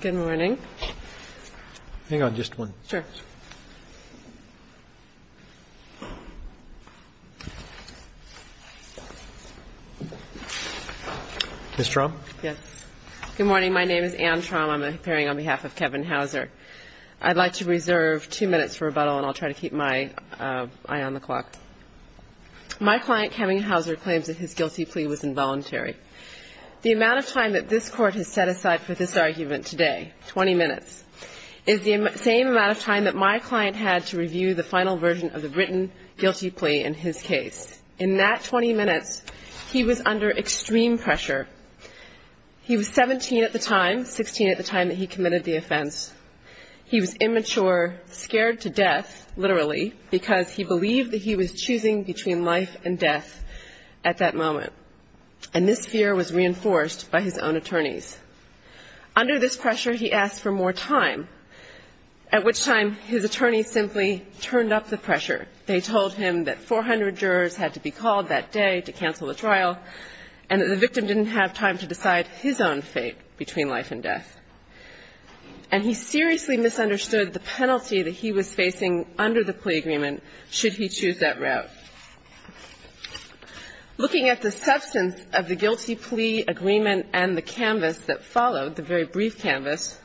Good morning. Hang on, just one. Sure. Ms. Traum? Good morning. My name is Anne Traum. I'm appearing on behalf of Kevin Hauser. I'd like to reserve two minutes for rebuttal, and I'll try to keep my eye on the clock. My client, Kevin Hauser, claims that his guilty plea was involuntary. The amount of time that this Court has set aside for this argument today, 20 minutes, is the same amount of time that my client had to review the final version of the written guilty plea in his case. In that 20 minutes, he was under extreme pressure. He was 17 at the time, 16 at the time that he committed the offense. He was immature, scared to death, literally, because he believed that he was choosing between life and death at that moment. And this fear was reinforced by his own attorneys. Under this pressure, he asked for more time, at which time his attorneys simply turned up the pressure. They told him that 400 jurors had to be called that day to cancel the trial, and that the victim didn't have time to decide his own fate between life and death. And he seriously misunderstood the penalty that he was facing under the plea agreement should he choose that route. Looking at the substance of the guilty plea agreement and the canvas that followed, the very brief canvas,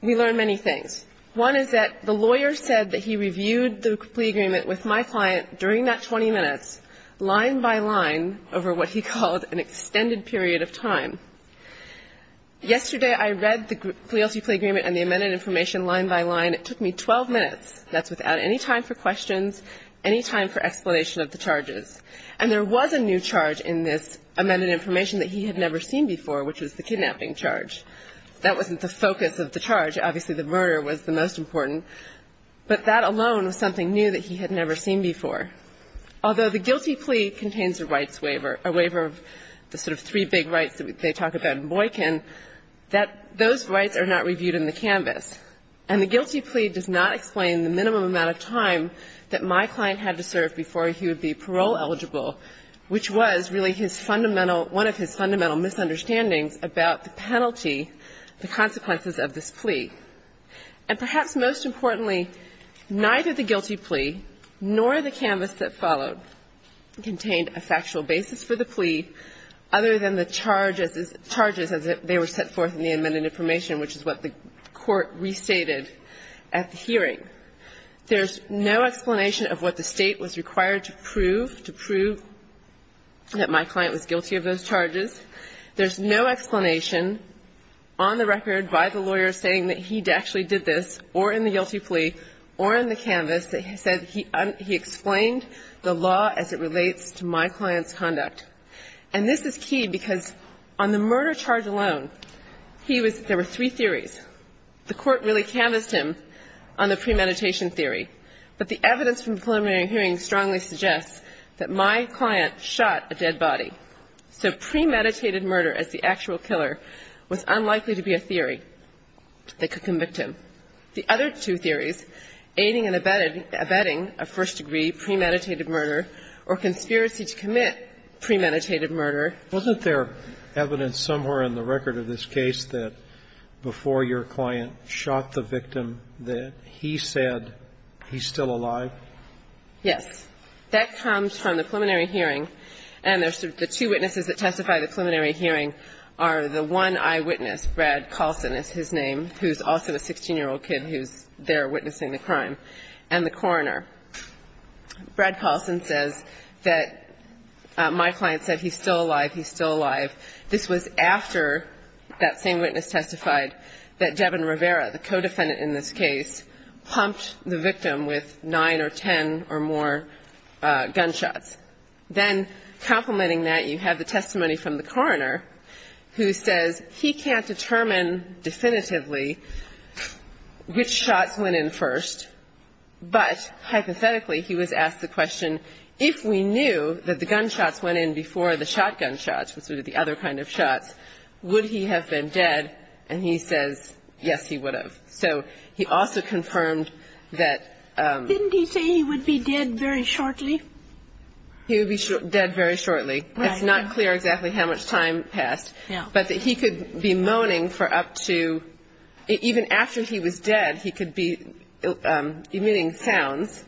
we learned many things. One is that the lawyer said that he reviewed the plea agreement with my client during that 20 minutes, line by line, over what he called an extended period of time. Yesterday, I read the guilty plea agreement and the amended information line by line. It took me 12 minutes. That's without any time for questions, any time for explanation of the charges. And there was a new charge in this amended information that he had never seen before, which was the kidnapping charge. That wasn't the focus of the charge. Obviously, the murder was the most important. But that alone was something new that he had never seen before. Although the guilty plea contains a rights waiver, a waiver of the sort of three big rights that they talk about in Boykin, those rights are not reviewed in the canvas. And the guilty plea does not explain the minimum amount of time that my client had to serve before he would be parole eligible, which was really his fundamental one of his fundamental misunderstandings about the penalty, the consequences of this plea. And perhaps most importantly, neither the guilty plea nor the canvas that followed contained a factual basis for the plea other than the charges as they were set forth in the amended information, which is what the Court restated at the hearing. There's no explanation of what the State was required to prove to prove that my client was guilty of those charges. There's no explanation on the record by the lawyer saying that he actually did this, or in the guilty plea, or in the canvas that he said he explained the law as it relates to my client's conduct. And this is key because on the murder charge alone, he was – there were three theories. The Court really canvassed him on the premeditation theory. But the evidence from the preliminary hearing strongly suggests that my client shot a dead body. So premeditated murder as the actual killer was unlikely to be a theory that could convict him. The other two theories, aiding and abetting a first-degree premeditated murder or conspiracy to commit premeditated murder. Wasn't there evidence somewhere in the record of this case that before your client shot the victim that he said he's still alive? Yes. That comes from the preliminary hearing. And there's the two witnesses that testify to the preliminary hearing are the one eyewitness, Brad Colson is his name, who's also a 16-year-old kid who's there witnessing the crime, and the coroner. Brad Colson says that my client said he's still alive, he's still alive. This was after that same witness testified that Devin Rivera, the co-defendant in this case, pumped the victim with nine or ten or more gunshots. Then complementing that, you have the testimony from the coroner who says he can't confirm that the gunshots went in before the shotgun shots, the other kind of shots. Would he have been dead? And he says, yes, he would have. So he also confirmed that... Didn't he say he would be dead very shortly? He would be dead very shortly. Right. It's not clear exactly how much time passed. But that he could be moaning for up to, even after he was dead, he could be, meaning And there's evidence that he made sounds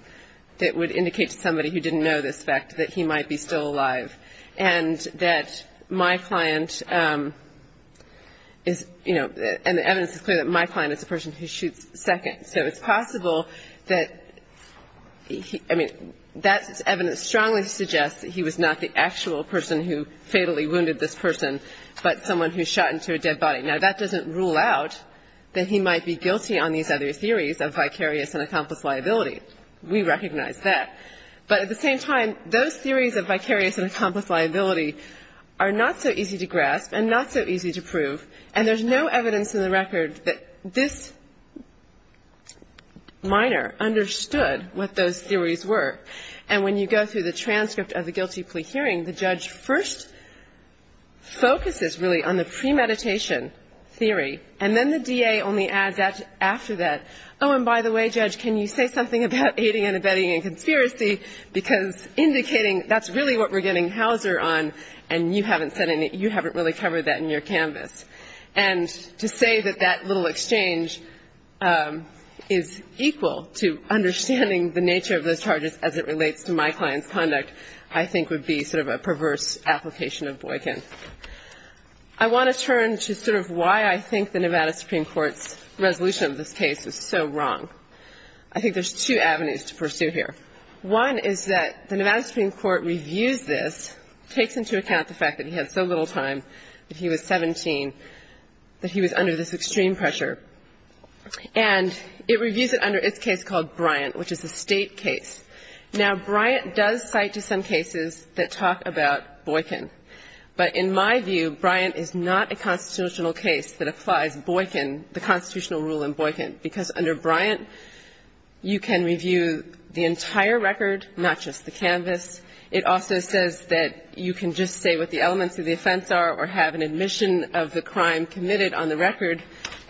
that would indicate to somebody who didn't know this fact that he might be still alive, and that my client is, you know, and the evidence is clear that my client is a person who shoots second. So it's possible that he, I mean, that evidence strongly suggests that he was not the actual person who fatally wounded this person, but someone who shot into a dead body. Now, that doesn't rule out that he might be guilty on these other theories of vicarious and accomplice liability. We recognize that. But at the same time, those theories of vicarious and accomplice liability are not so easy to grasp and not so easy to prove. And there's no evidence in the record that this minor understood what those theories were. And when you go through the transcript of the guilty plea hearing, the judge first focuses really on the premeditation theory. And then the DA only adds after that, oh, and by the way, Judge, can you say something about aiding and abetting and conspiracy, because indicating that's really what we're getting Hauser on, and you haven't said any, you haven't really covered that in your canvas. And to say that that little exchange is equal to understanding the nature of those charges as it relates to my client's conduct, I think, would be sort of a perverse application of Boykin. I want to turn to sort of why I think the Nevada Supreme Court's resolution of this case is so wrong. I think there's two avenues to pursue here. One is that the Nevada Supreme Court reviews this, takes into account the fact that he had so little time, that he was 17, that he was under this extreme pressure. And it reviews it under its case called Bryant, which is a State case. Now, Bryant does cite to some cases that talk about Boykin. But in my view, Bryant is not a constitutional case that applies Boykin, the constitutional rule in Boykin, because under Bryant, you can review the entire record, not just the canvas. It also says that you can just say what the elements of the offense are or have an admission of the crime committed on the record.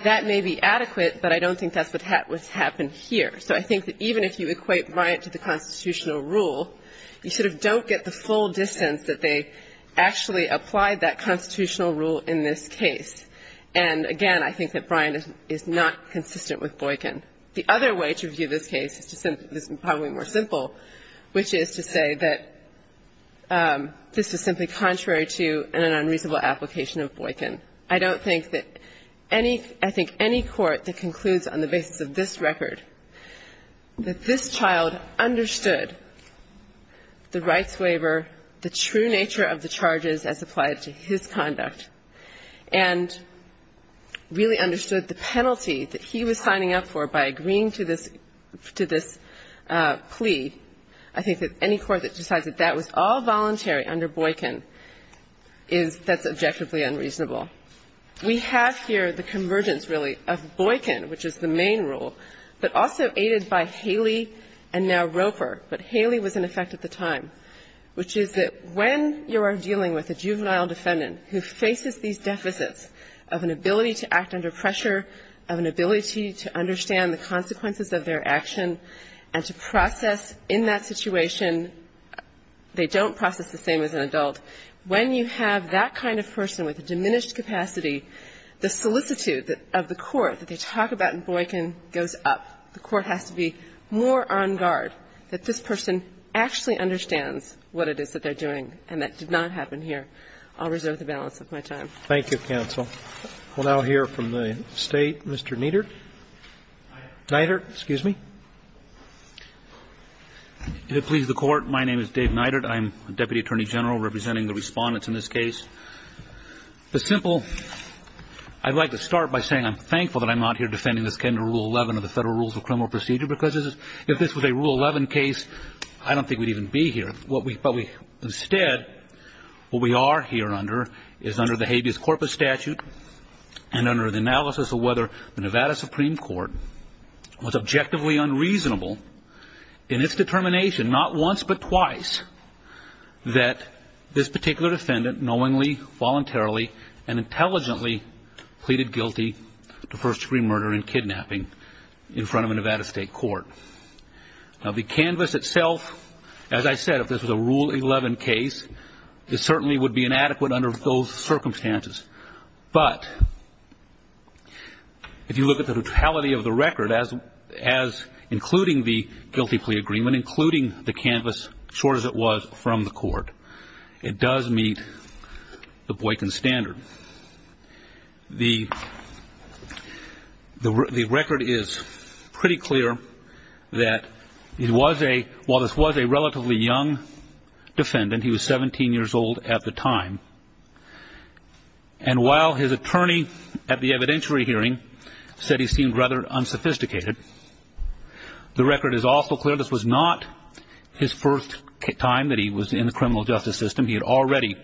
That may be adequate, but I don't think that's what happened here. So I think that even if you equate Bryant to the constitutional rule, you sort of don't get the full distance that they actually applied that constitutional rule in this case. And again, I think that Bryant is not consistent with Boykin. The other way to view this case is probably more simple, which is to say that this is simply contrary to an unreasonable application of Boykin. I don't think that any – I think any court that concludes on the basis of this record that this child understood the rights waiver, the true nature of the charges as applied to his conduct, and really understood the penalty that he was signing up for by agreeing to this – to this plea, I think that any court that decides that that was all voluntary under Boykin is – that's objectively unreasonable. We have here the convergence, really, of Boykin, which is the main rule, but also aided by Haley and now Roper, but Haley was in effect at the time, which is that when you are dealing with a juvenile defendant who faces these deficits of an ability to act under pressure, of an ability to understand the consequences of their action, and to process in that situation, they don't process the same as an adult, when you have that kind of person with a diminished capacity, the solicitude of the court that they talk about in Boykin goes up. The court has to be more on guard that this person actually understands what it is that they're doing, and that did not happen here. I'll reserve the balance of my time. Roberts. Thank you, counsel. We'll now hear from the State. Mr. Neidert. Neidert, excuse me. If it pleases the Court, my name is Dave Neidert. I'm the Deputy Attorney General representing the respondents in this case. The simple – I'd like to start by saying I'm thankful that I'm not here defending this kind of Rule 11 of the Federal Rules of Criminal Procedure, because if this was a Rule 11 case, I don't think we'd even be here. Instead, what we are here under is under the habeas corpus statute and under the analysis of whether the Nevada Supreme Court was objectively unreasonable in its determination not once but twice that this particular defendant knowingly, voluntarily, and intelligently pleaded guilty to first-degree murder and kidnapping in front of a Nevada State court. Now, the canvas itself, as I said, if this was a Rule 11 case, it certainly would be inadequate under those circumstances. But if you look at the totality of the record, including the guilty plea agreement, including the canvas, short as it was from the court, it does meet the Boykin standard. The record is pretty clear that while this was a relatively young defendant, he was 17 years old at the time, and while his attorney at the evidentiary hearing said he seemed rather unsophisticated, the record is also clear this was not his first time that he was in the criminal justice system. He had already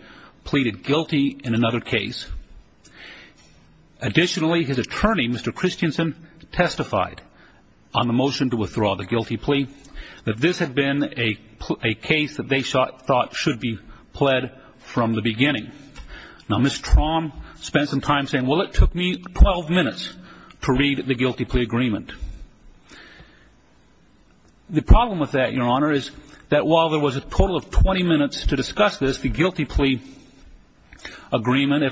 pleaded guilty in another case. Additionally, his attorney, Mr. Christensen, testified on the motion to withdraw the guilty plea that this had been a case that they thought should be pled from the beginning. Now, Ms. Traum spent some time saying, well, it took me 12 minutes to read the guilty plea agreement. The problem with that, Your Honor, is that while there was a total of 20 minutes to discuss this, the guilty plea agreement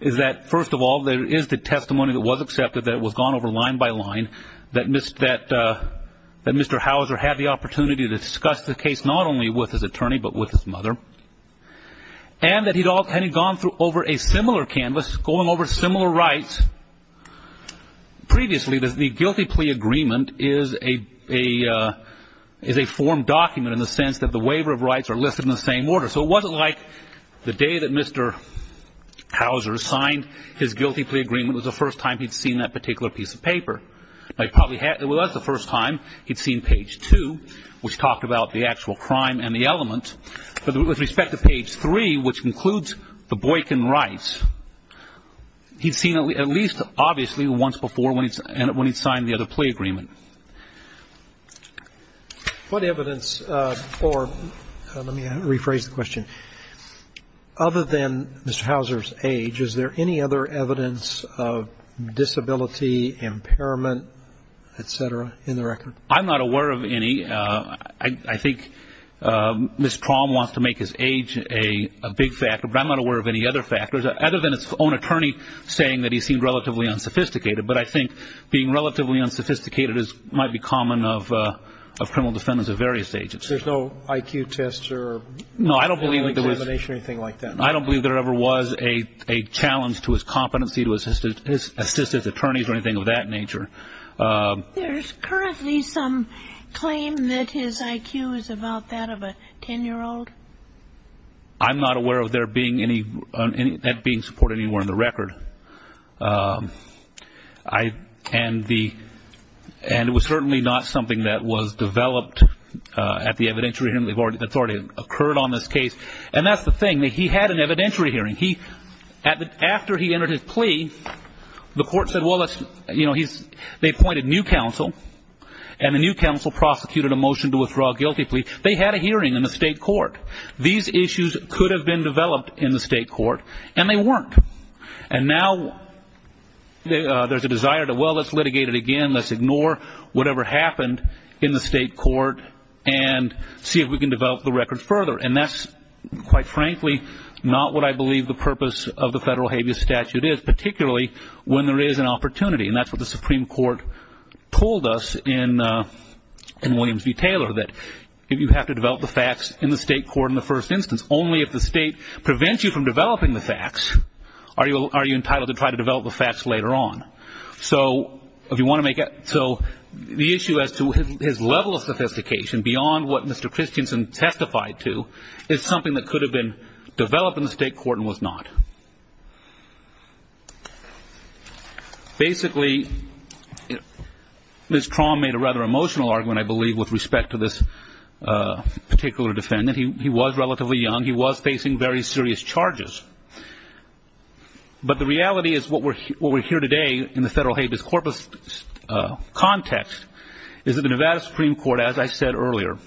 is that, first of all, there is the testimony that was accepted that was gone over line by line, that Mr. Hauser had the opportunity to discuss the case not only with his attorney but with his mother, and that he had gone over a similar right previously. The guilty plea agreement is a formed document in the sense that the waiver of rights are listed in the same order. So it wasn't like the day that Mr. Hauser signed his guilty plea agreement was the first time he'd seen that particular piece of paper. It was the first time he'd seen page 2, which talked about the actual crime and the He'd seen it at least obviously once before when he'd signed the other plea agreement. What evidence for, let me rephrase the question, other than Mr. Hauser's age, is there any other evidence of disability, impairment, et cetera, in the record? I'm not aware of any. I think Ms. Traum wants to make his age a big factor, but I'm not aware of any other factors other than his own attorney saying that he seemed relatively unsophisticated. But I think being relatively unsophisticated might be common of criminal defendants of various ages. There's no IQ test or examination or anything like that? No, I don't believe there ever was a challenge to his competency to assist his attorneys or anything of that nature. There's currently some claim that his IQ is about that of a 10-year-old. I'm not aware of that being supported anywhere in the record. And it was certainly not something that was developed at the evidentiary hearing. That's already occurred on this case. And that's the thing. He had an evidentiary hearing. After he entered his plea, the court said, well, let's, you know, they appointed new counsel, and the new counsel prosecuted a motion to withdraw a guilty plea. They had a hearing in the state court. These issues could have been developed in the state court, and they weren't. And now there's a desire to, well, let's litigate it again. Let's ignore whatever happened in the state court and see if we can develop the record further. And that's, quite frankly, not what I believe the purpose of the federal habeas statute is, particularly when there is an opportunity. And that's what the Supreme Court told us in Williams v. Taylor, that you have to develop the facts in the state court in the first instance. Only if the state prevents you from developing the facts are you entitled to try to develop the facts later on. So the issue as to his level of sophistication, beyond what Mr. Christensen testified to, is something that could have been developed in the state court and was not. Basically, Ms. Traum made a rather emotional argument, I believe, with respect to this particular defendant. He was relatively young. He was facing very serious charges. But the reality is what we're here today in the federal habeas corpus context is that the Nevada Supreme Court, as I said earlier,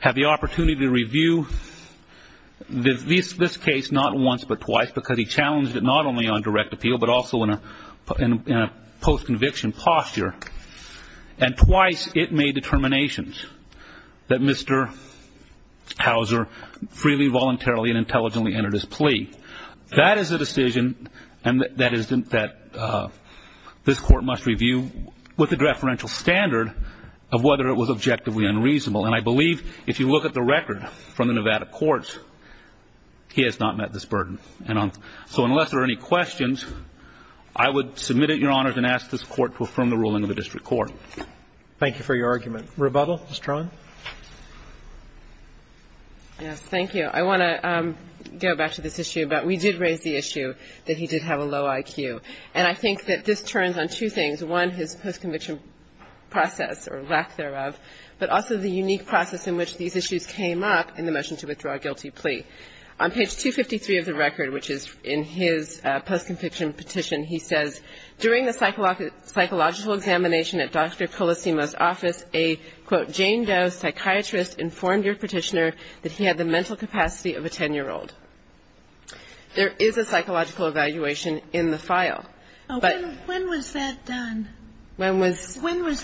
had the opportunity to review this case not once but twice. Because he challenged it not only on direct appeal but also in a post-conviction posture. And twice it made determinations that Mr. Hauser freely, voluntarily, and intelligently entered his plea. That is a decision that this court must review with a deferential standard of whether it was objectively unreasonable. And I believe if you look at the record from the Nevada courts, he has not met this burden. So unless there are any questions, I would submit it, Your Honors, and ask this court to affirm the ruling of the district court. Thank you for your argument. Rebuttal, Ms. Traum. Yes. Thank you. I want to go back to this issue. But we did raise the issue that he did have a low IQ. And I think that this turns on two things. One, his post-conviction process or lack thereof, but also the unique process in which these issues came up in the motion to withdraw a guilty plea. On page 253 of the record, which is in his post-conviction petition, he says, during the psychological examination at Dr. Colasimo's office, a, quote, Jane Doe psychiatrist informed your petitioner that he had the mental capacity of a 10-year-old. There is a psychological evaluation in the file. When was that done? When was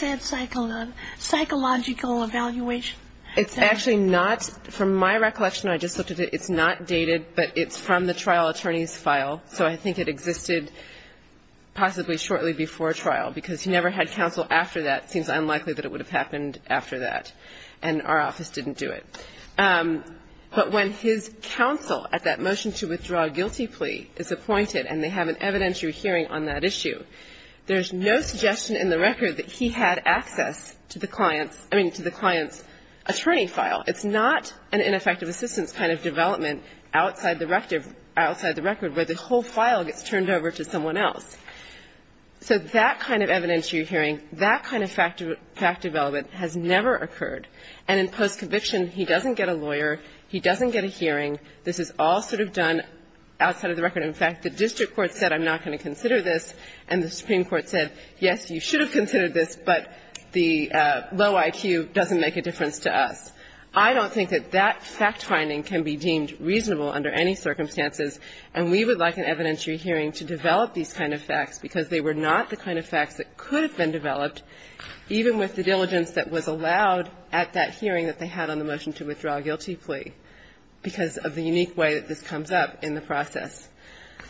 that psychological evaluation done? It's actually not. From my recollection, I just looked at it, it's not dated, but it's from the trial attorney's file. So I think it existed possibly shortly before trial because he never had counsel after that. It seems unlikely that it would have happened after that. And our office didn't do it. But when his counsel at that motion to withdraw a guilty plea is appointed and they have an evidentiary hearing on that issue, there's no suggestion in the record that he had access to the client's, I mean, to the client's attorney file. It's not an ineffective assistance kind of development outside the record where the whole file gets turned over to someone else. So that kind of evidentiary hearing, that kind of fact development has never occurred. And in post-conviction, he doesn't get a lawyer, he doesn't get a hearing. This is all sort of done outside of the record. In fact, the district court said, I'm not going to consider this, and the Supreme Court said, yes, you should have considered this, but the low IQ doesn't make a difference to us. I don't think that that fact finding can be deemed reasonable under any circumstances, and we would like an evidentiary hearing to develop these kind of facts because they were not the kind of facts that could have been developed, even with the diligence that was allowed at that hearing that they had on the motion to withdraw a guilty plea, because of the unique way that this comes up in the process.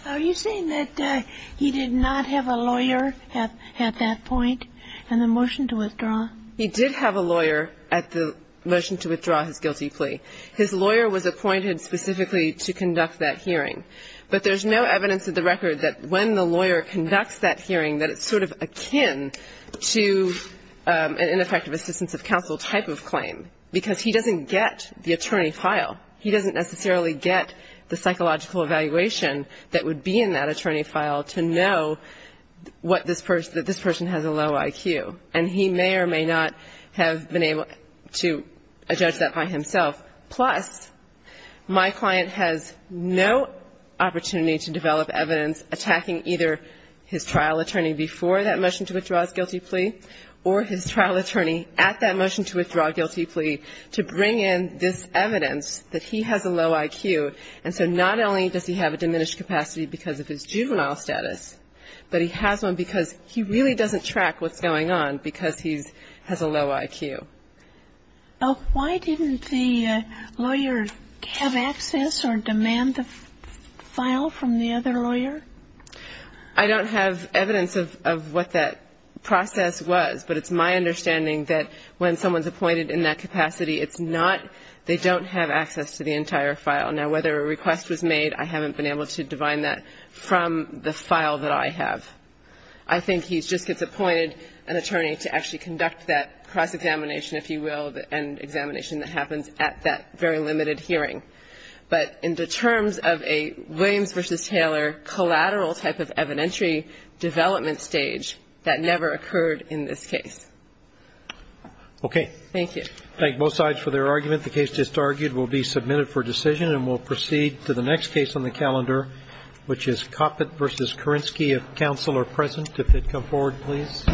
Are you saying that he did not have a lawyer at that point in the motion to withdraw? He did have a lawyer at the motion to withdraw his guilty plea. His lawyer was appointed specifically to conduct that hearing. But there's no evidence in the record that when the lawyer conducts that hearing, that it's sort of akin to an ineffective assistance of counsel type of claim, because he doesn't get the attorney file. He doesn't necessarily get the psychological evaluation that would be in that attorney file to know what this person, that this person has a low IQ. And he may or may not have been able to judge that by himself. Plus, my client has no opportunity to develop evidence attacking either his trial attorney before that motion to withdraw his guilty plea or his trial attorney at that motion to withdraw a guilty plea to bring in this evidence that he has a low IQ. And so not only does he have a diminished capacity because of his juvenile status, but he has one because he really doesn't track what's going on because he has a low IQ. Why didn't the lawyer have access or demand the file from the other lawyer? I don't have evidence of what that process was, but it's my understanding that when someone's appointed in that capacity, it's not they don't have access to the entire file. Now, whether a request was made, I haven't been able to divine that from the file that I have. I think he just gets appointed an attorney to actually conduct that cross-examination, if you will, and examination that happens at that very limited hearing. But in terms of a Williams v. Taylor collateral type of evidentiary development stage, that never occurred in this case. Thank you. Thank both sides for their argument. The case just argued will be submitted for decision, and we'll proceed to the next case on the calendar, which is Coppett v. Korinsky, if counsel are present. If they'd come forward, please.